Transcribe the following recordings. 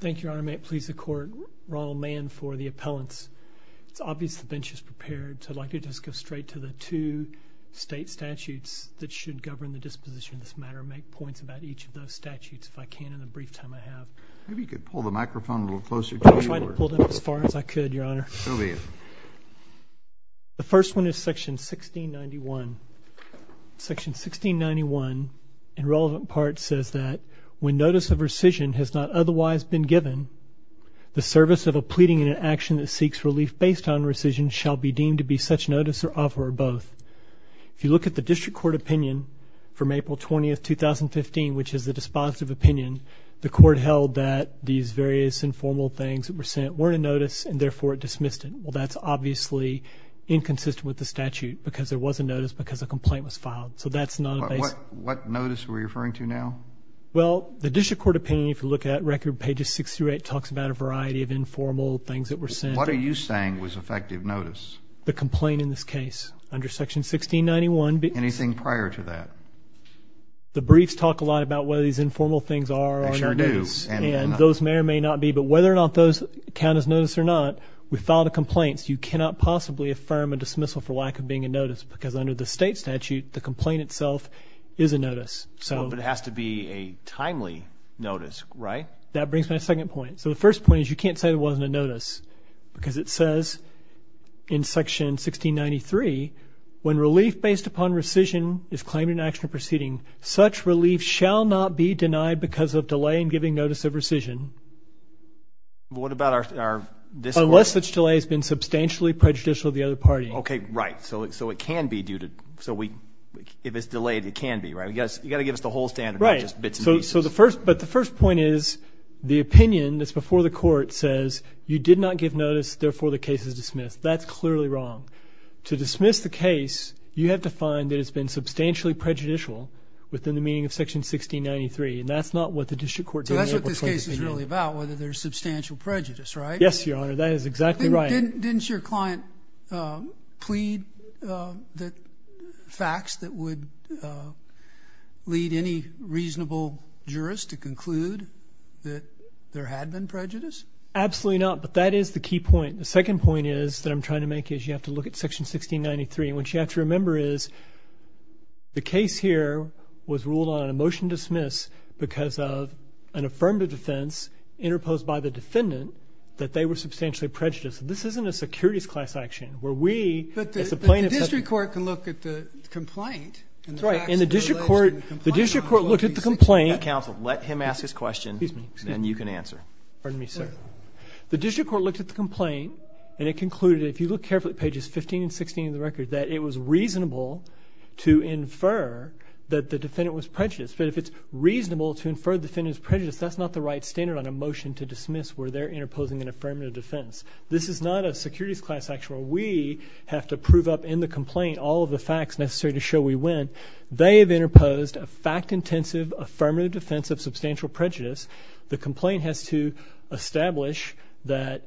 Thank you, Your Honor. May it please the Court, Ronald Mann for the appellants. It's obvious the bench is prepared, so I'd like to just go straight to the two state statutes that should govern the disposition of this matter and make points about each of those statutes if I can in the brief time I have. Maybe you could pull the microphone a little closer to you. I'll try to pull it up as far as I could, Your Honor. So be it. The first one is section 1691. Section 1691, in relevant parts, says that when notice of rescission has not otherwise been given, the service of a pleading and an action that seeks relief based on rescission shall be deemed to be such notice or offer or both. If you look at the district court opinion from April 20th, 2015, which is the dispositive opinion, the court held that these various informal things that were sent weren't a notice and therefore dismissed it. Well, that's obviously inconsistent with the statute because there was a notice because a complaint was filed. So that's not a basis. What notice are we referring to now? Well, the district court opinion, if you look at record pages 6 through 8, talks about a variety of informal things that were sent. What are you saying was effective notice? The complaint in this case under section 1691. Anything prior to that? The briefs talk a lot about whether these informal things are or are not. They sure do. And those may or may not be. But whether or not those count as notice or not, we file the complaints. You cannot possibly affirm a dismissal for lack of being a notice. Because under the state statute, the complaint itself is a notice. But it has to be a timely notice, right? That brings me to my second point. So the first point is you can't say it wasn't a notice. Because it says in section 1693, when relief based upon rescission is claimed in an action proceeding, such relief shall not be denied because of delay in giving notice of rescission. What about our... Unless such delay has been substantially prejudicial to the other party. Okay, right. So it can be due to... If it's delayed, it can be, right? You've got to give us the whole standard, not just bits and pieces. But the first point is the opinion that's before the court says you did not give notice, therefore the case is dismissed. That's clearly wrong. To dismiss the case, you have to find that it's been substantially prejudicial within the meaning of section 1693. And that's not what the district court... So that's what this case is really about, whether there's substantial prejudice, right? Yes, your honor. That is exactly right. Didn't your client plead that facts that would lead any reasonable jurist to conclude that there had been prejudice? Absolutely not. But that is the key point. The second point is that I'm trying to make is you have to look at section 1693, and what you have to remember is the case here was ruled on a motion to dismiss because of an affirmative defense interposed by the defendant that they were substantially prejudiced. This isn't a securities class action, where we... But the district court can look at the complaint and the facts that were alleged in the complaint. Right. And the district court looked at the complaint... Counsel, let him ask his question and you can answer. Pardon me, sir. The district court looked at the complaint and it concluded, if you look carefully at pages 15 and 16 of the record, that it was reasonable to infer that the defendant was prejudiced. But if it's reasonable to infer the defendant's prejudice, that's not the right standard on a motion to dismiss where they're interposing an affirmative defense. This is not a securities class action where we have to prove up in the complaint all of the facts necessary to show we win. They have interposed a fact-intensive affirmative defense of substantial prejudice. The complaint has to establish that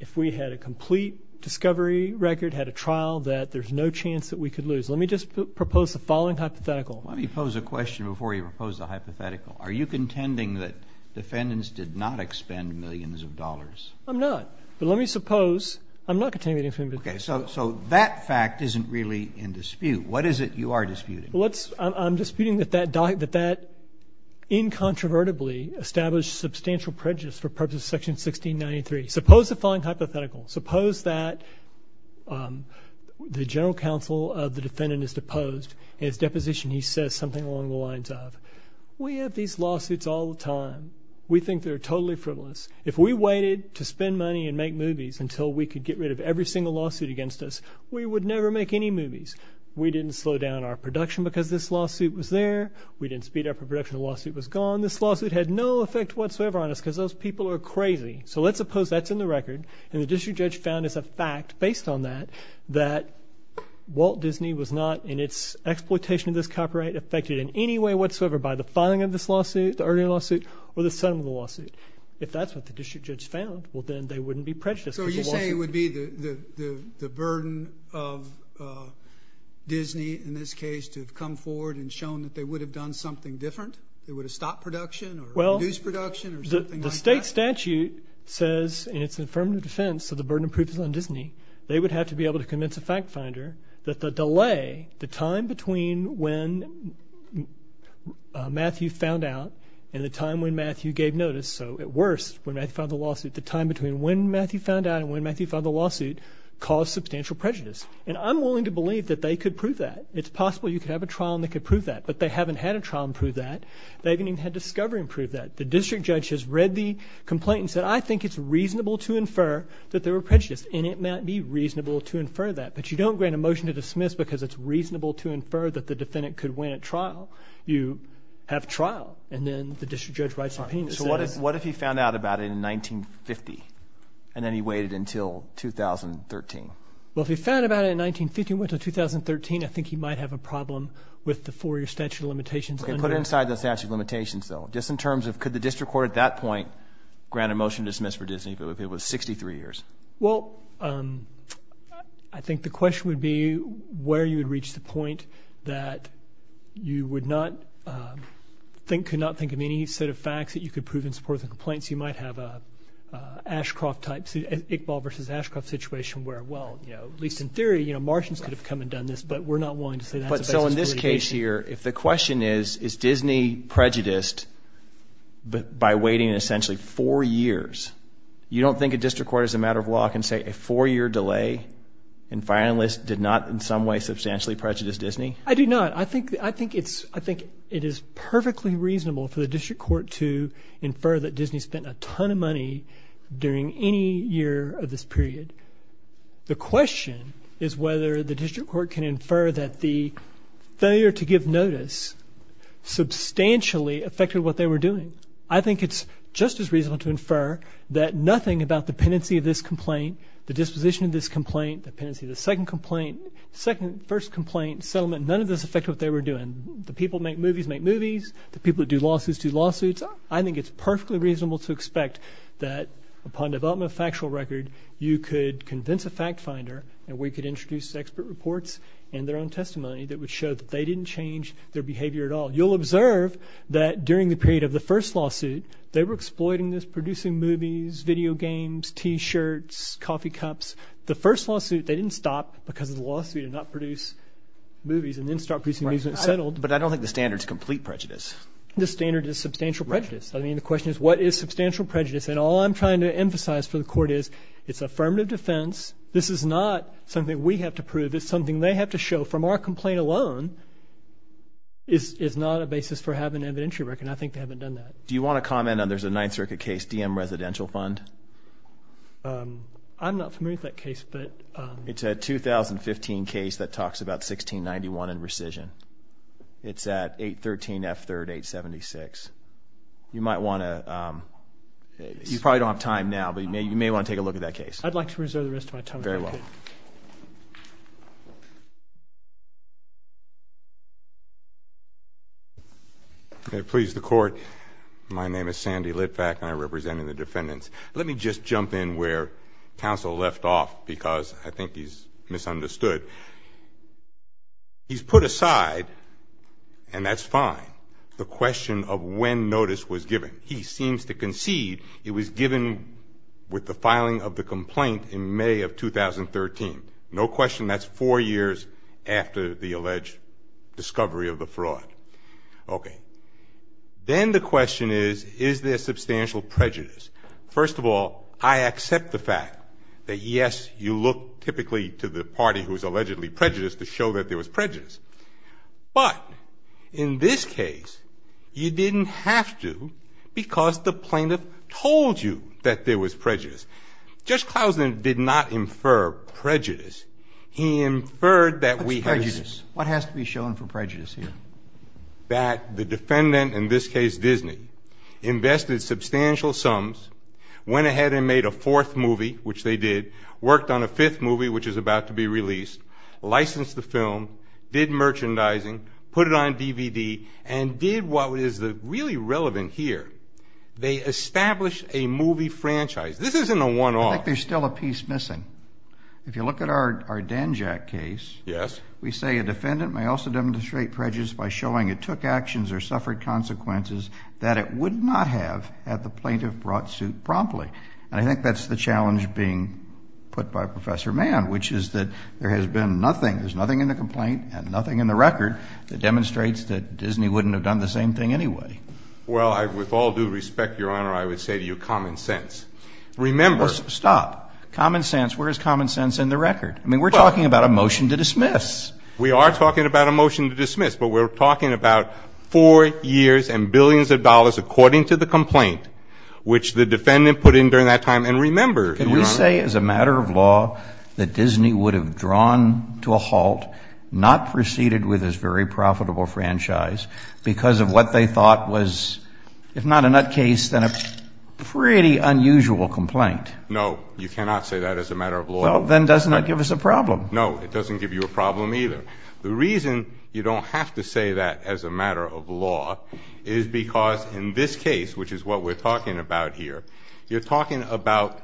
if we had a complete discovery record, had a trial, that there's no chance that we could lose. Let me just propose the following hypothetical. Let me pose a question before you propose the hypothetical. Are you contending that defendants did not expend millions of dollars? I'm not. But let me suppose — I'm not contending that defendants... Okay. So that fact isn't really in dispute. What is it you are disputing? Well, let's — I'm disputing that that — that that incontrovertibly established substantial prejudice for purposes of Section 1693. Suppose the following hypothetical. Suppose that the general counsel of the defendant is deposed. In his deposition he says something along the lines of, we have these lawsuits all the time. We think they're totally frivolous. If we waited to spend money and make movies until we could get rid of every single lawsuit against us, we would never make any movies. We didn't slow down our production because this lawsuit was there. We didn't speed up our production. The lawsuit was gone. This lawsuit had no effect whatsoever on us because those people are crazy. So let's suppose that's in the record and the district judge found as a fact, based on that, that Walt Disney was not, in its exploitation of this copyright, affected in any way whatsoever by the filing of this lawsuit, the earlier lawsuit, or the settlement of the lawsuit. If that's what the district judge found, well then they wouldn't be prejudiced. So you're saying it would be the burden of Disney, in this case, to have come forward and shown that they would have done something different? They would have stopped production or reduced production or something like that? The state statute says, in its affirmative defense, so the burden of proof is on Disney, they would have to be able to convince a fact finder that the delay, the time between when Matthew found out and the time when Matthew gave notice, so at worst, when Matthew filed the lawsuit, the time between when Matthew found out and when Matthew filed the lawsuit, caused substantial prejudice. And I'm willing to believe that they could prove that. It's possible you could have a trial and they could prove that. But they haven't had a trial and proved that. They haven't even had discovery and proved that. The district judge has read the complaint and said, I think it's reasonable to infer that they were prejudiced. And it might be reasonable to infer that. But you don't grant a motion to dismiss because it's reasonable to infer that the defendant could win at trial. You have trial. And then the district judge writes an opinion. So what if he found out about it in 1950 and then he waited until 2013? Well, if he found out about it in 1950 and went to 2013, I think he might have a problem with the four-year statute of limitations. Put it inside the statute of limitations, though. Just in terms of could the district court at that point grant a motion to dismiss for Disney if it was 63 years? Well, I think the question would be where you would reach the point that you would not think of any set of facts that you could prove in support of the complaints. You might have an Iqbal versus Ashcroft situation where, well, at least in theory, Martians could have come and done this, but we're not willing to say that's a basis for litigation. So in this case here, if the question is, is Disney prejudiced by waiting essentially four years, you don't think a district court as a matter of law can say a four-year delay and finalists did not in some way substantially prejudice Disney? I do not. I think it is perfectly reasonable for the district court to infer that Disney spent a ton of money during any year of this period. The question is whether the district court can infer that the failure to give notice substantially affected what they were doing. I think it's just as reasonable to infer that nothing about the pendency of this complaint, the disposition of this complaint, the pendency of the second complaint, first complaint, settlement, none of this affected what they were doing. The people who make movies make movies. The people who do lawsuits do lawsuits. I think it's perfectly reasonable to expect that upon development of a factual record, you could convince a fact finder and we could introduce expert reports and their own testimony that would show that they didn't change their behavior at all. You'll observe that during the period of the first lawsuit, they were exploiting this, producing movies, video games, T-shirts, coffee cups. The first lawsuit, they didn't stop because of the lawsuit and not produce movies and then start producing movies when it settled. But I don't think the standard is complete prejudice. The standard is substantial prejudice. I mean, the question is what is substantial prejudice? And all I'm trying to emphasize for the court is it's affirmative defense. This is not something we have to prove. It's something they have to show from our complaint alone is not a basis for having an evidentiary record, and I think they haven't done that. Do you want to comment on there's a Ninth Circuit case, Diem Residential Fund? I'm not familiar with that case. It's a 2015 case that talks about 1691 and rescission. It's at 813 F 3rd, 876. You might want to, you probably don't have time now, but you may want to take a look at that case. I'd like to reserve the rest of my time if I could. Very well. Please, the court. My name is Sandy Litvak, and I represent the defendants. Let me just jump in where counsel left off because I think he's misunderstood. He's put aside, and that's fine, the question of when notice was given. He seems to concede it was given with the filing of the complaint in May of 2013. No question that's four years after the alleged discovery of the fraud. Okay. Then the question is, is there substantial prejudice? First of all, I accept the fact that, yes, you look typically to the party who is allegedly prejudiced to show that there was prejudice. But in this case, you didn't have to because the plaintiff told you that there was prejudice. Judge Clousen did not infer prejudice. He inferred that we had. What's prejudice? What has to be shown for prejudice here? That the defendant, in this case Disney, invested substantial sums, went ahead and made a fourth movie, which they did, worked on a fifth movie, which is about to be released, licensed the film, did merchandising, put it on DVD, and did what is really relevant here. They established a movie franchise. This isn't a one-off. I think there's still a piece missing. If you look at our Dan Jack case, we say a defendant may also demonstrate prejudice by showing it took actions or suffered consequences that it would not have had the plaintiff brought to suit promptly. And I think that's the challenge being put by Professor Mann, which is that there has been nothing, there's nothing in the complaint and nothing in the record that demonstrates that Disney wouldn't have done the same thing anyway. Well, with all due respect, Your Honor, I would say to you common sense. Remember. Stop. Common sense. Where is common sense in the record? I mean, we're talking about a motion to dismiss. We are talking about a motion to dismiss, but we're talking about four years and billions of dollars, according to the complaint, which the defendant put in during that time. And remember, Your Honor. Can you say, as a matter of law, that Disney would have drawn to a halt, not proceeded with this very profitable franchise because of what they thought was, if not a nutcase, then a pretty unusual complaint? No. You cannot say that as a matter of law. Well, then doesn't that give us a problem? No. It doesn't give you a problem either. The reason you don't have to say that as a matter of law is because in this case, which is what we're talking about here, you're talking about,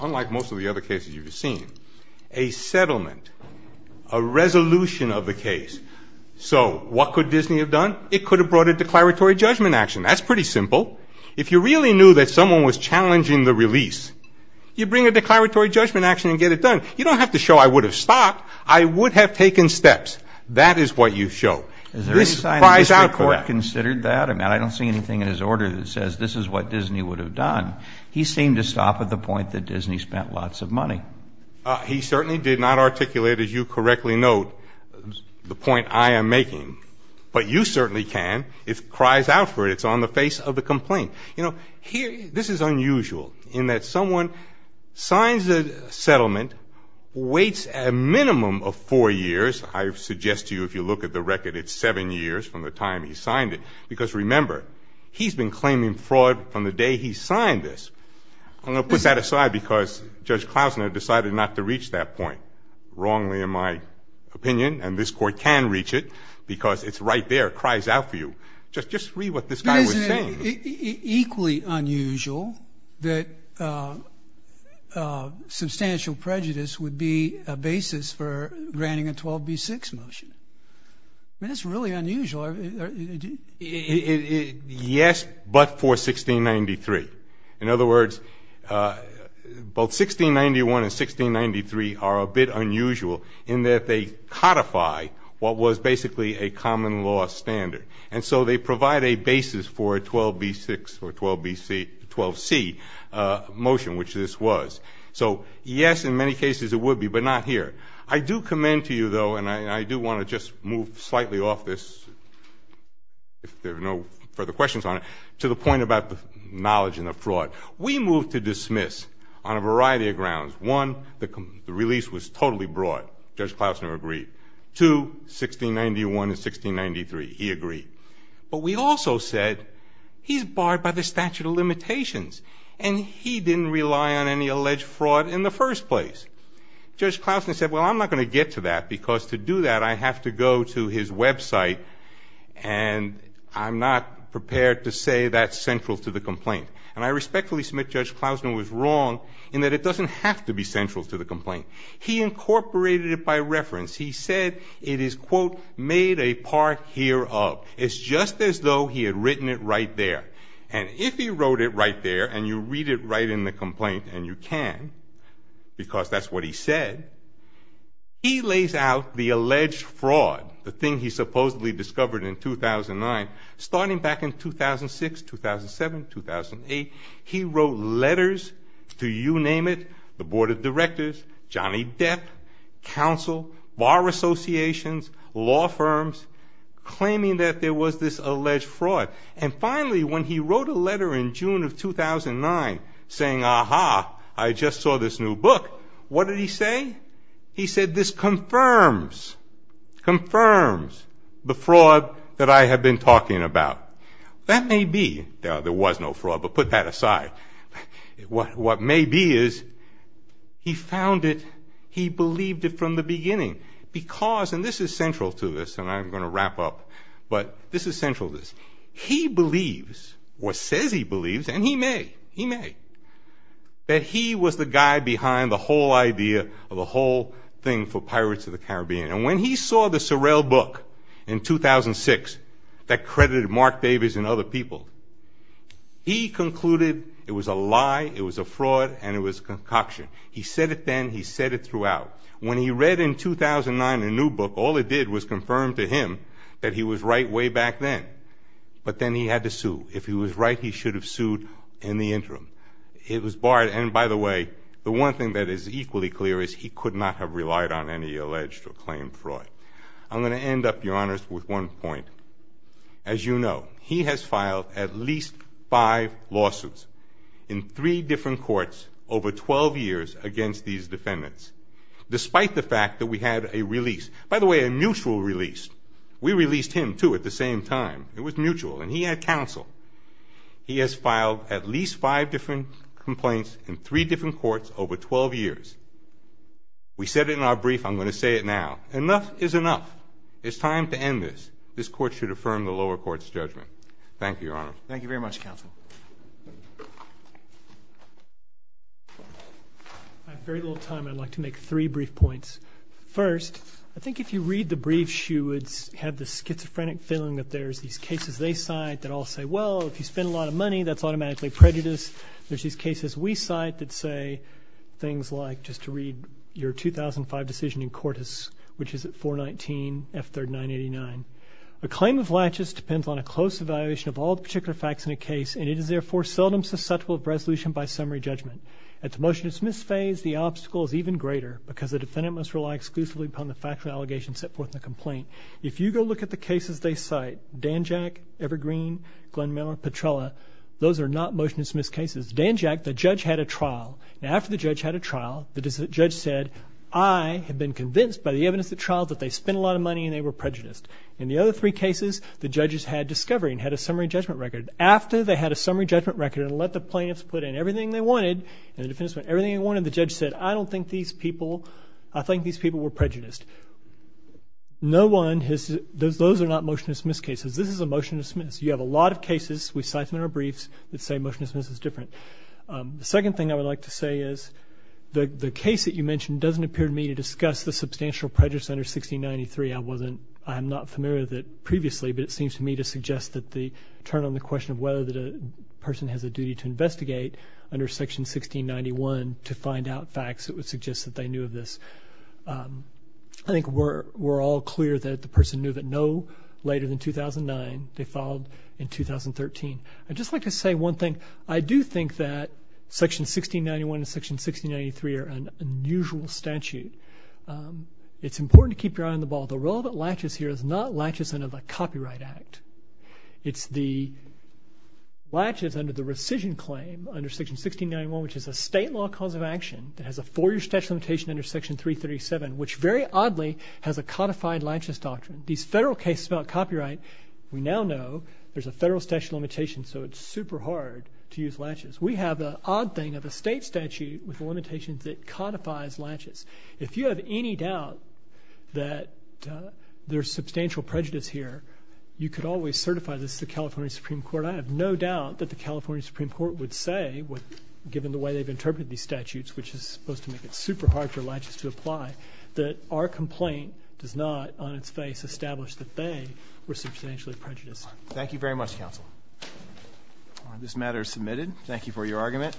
unlike most of the other cases you've seen, a settlement, a resolution of the case. So what could Disney have done? It could have brought a declaratory judgment action. That's pretty simple. If you really knew that someone was challenging the release, you bring a declaratory judgment action and get it done. You don't have to show I would have stopped. I would have taken steps. That is what you show. Is there any sign that this Court considered that? I mean, I don't see anything in his order that says this is what Disney would have done. He seemed to stop at the point that Disney spent lots of money. He certainly did not articulate, as you correctly note, the point I am making. But you certainly can. It cries out for it. It's on the face of the complaint. You know, this is unusual in that someone signs a settlement, waits a minimum of four years. I suggest to you if you look at the record, it's seven years from the time he signed it because, remember, he's been claiming fraud from the day he signed this. I'm going to put that aside because Judge Klausner decided not to reach that point, wrongly in my opinion, and this Court can reach it because it's right there. It cries out for you. Just read what this guy was saying. It is equally unusual that substantial prejudice would be a basis for granting a 12b-6 motion. I mean, it's really unusual. Yes, but for 1693. In other words, both 1691 and 1693 are a bit unusual in that they codify what was basically a common law standard. And so they provide a basis for a 12b-6 or 12c motion, which this was. So, yes, in many cases it would be, but not here. I do commend to you, though, and I do want to just move slightly off this, if there are no further questions on it, to the point about the knowledge and the fraud. We moved to dismiss on a variety of grounds. One, the release was totally broad. Judge Klausner agreed. Two, 1691 and 1693, he agreed. But we also said he's barred by the statute of limitations, and he didn't rely on any alleged fraud in the first place. Judge Klausner said, well, I'm not going to get to that because to do that I have to go to his website, and I'm not prepared to say that's central to the complaint. And I respectfully submit Judge Klausner was wrong in that it doesn't have to be central to the complaint. He incorporated it by reference. He said it is, quote, made a part hereof. It's just as though he had written it right there. And if he wrote it right there, and you read it right in the complaint, and you can, because that's what he said, he lays out the alleged fraud, the thing he supposedly discovered in 2009. Starting back in 2006, 2007, 2008, he wrote letters to you name it, the board of directors, Johnny Depp, counsel, bar associations, law firms, claiming that there was this alleged fraud. And finally, when he wrote a letter in June of 2009 saying, ah-ha, I just saw this new book, what did he say? He said this confirms, confirms the fraud that I have been talking about. That may be, there was no fraud, but put that aside. What may be is he found it, he believed it from the beginning because, and this is central to this, and I'm going to wrap up, but this is central to this. He believes, or says he believes, and he may, he may, that he was the guy behind the whole idea of the whole thing for Pirates of the Caribbean. And when he saw the Sorrell book in 2006 that credited Mark Davis and other people, he concluded it was a lie, it was a fraud, and it was a concoction. He said it then, he said it throughout. When he read in 2009 a new book, all it did was confirm to him that he was right way back then. But then he had to sue. If he was right, he should have sued in the interim. It was barred, and by the way, the one thing that is equally clear is he could not have relied on any alleged or claimed fraud. I'm going to end up, Your Honors, with one point. As you know, he has filed at least five lawsuits in three different courts over 12 years against these defendants, despite the fact that we had a release. By the way, a mutual release. We released him, too, at the same time. It was mutual, and he had counsel. He has filed at least five different complaints in three different courts over 12 years. We said it in our brief. I'm going to say it now. Enough is enough. It's time to end this. This court should affirm the lower court's judgment. Thank you, Your Honors. Thank you very much, Counsel. I have very little time. I'd like to make three brief points. First, I think if you read the briefs, you would have the schizophrenic feeling that there's these cases they cite that all say, well, if you spend a lot of money, that's automatically prejudice. There's these cases we cite that say things like, just to read your 2005 decision in Cortis, which is at 419F3989. A claim of laches depends on a close evaluation of all the particular facts in a case, and it is, therefore, seldom susceptible to resolution by summary judgment. At the motion to dismiss phase, the obstacle is even greater because the defendant must rely exclusively upon the factual allegations set forth in the complaint. If you go look at the cases they cite, Danjack, Evergreen, Glenn Miller, Petrella, those are not motion to dismiss cases. Danjack, the judge had a trial. After the judge had a trial, the judge said, I have been convinced by the evidence of the trial that they spent a lot of money and they were prejudiced. In the other three cases, the judges had discovery and had a summary judgment record. And the defense went everything they wanted. The judge said, I don't think these people, I think these people were prejudiced. No one has, those are not motion to dismiss cases. This is a motion to dismiss. You have a lot of cases. We cite them in our briefs that say motion to dismiss is different. The second thing I would like to say is the case that you mentioned doesn't appear to me to discuss the substantial prejudice under 1693. I wasn't, I'm not familiar with it previously, but it seems to me to suggest that the turn on the question of whether the person has a duty to investigate under section 1691 to find out facts, it would suggest that they knew of this. I think we're all clear that the person knew of it no later than 2009. They filed in 2013. I'd just like to say one thing. I do think that section 1691 and section 1693 are an unusual statute. It's important to keep your eye on the ball. The relevant latches here is not latches under the Copyright Act. It's the latches under the rescission claim under section 1691, which is a state law cause of action that has a four-year statute limitation under section 337, which very oddly has a codified latches doctrine. These federal cases about copyright, we now know there's a federal statute limitation, so it's super hard to use latches. We have the odd thing of a state statute with limitations that codifies latches. If you have any doubt that there's substantial prejudice here, you could always certify this to the California Supreme Court. I have no doubt that the California Supreme Court would say, given the way they've interpreted these statutes, which is supposed to make it super hard for latches to apply, that our complaint does not on its face establish that they were substantially prejudiced. Thank you very much, counsel. This matter is submitted. Thank you for your argument.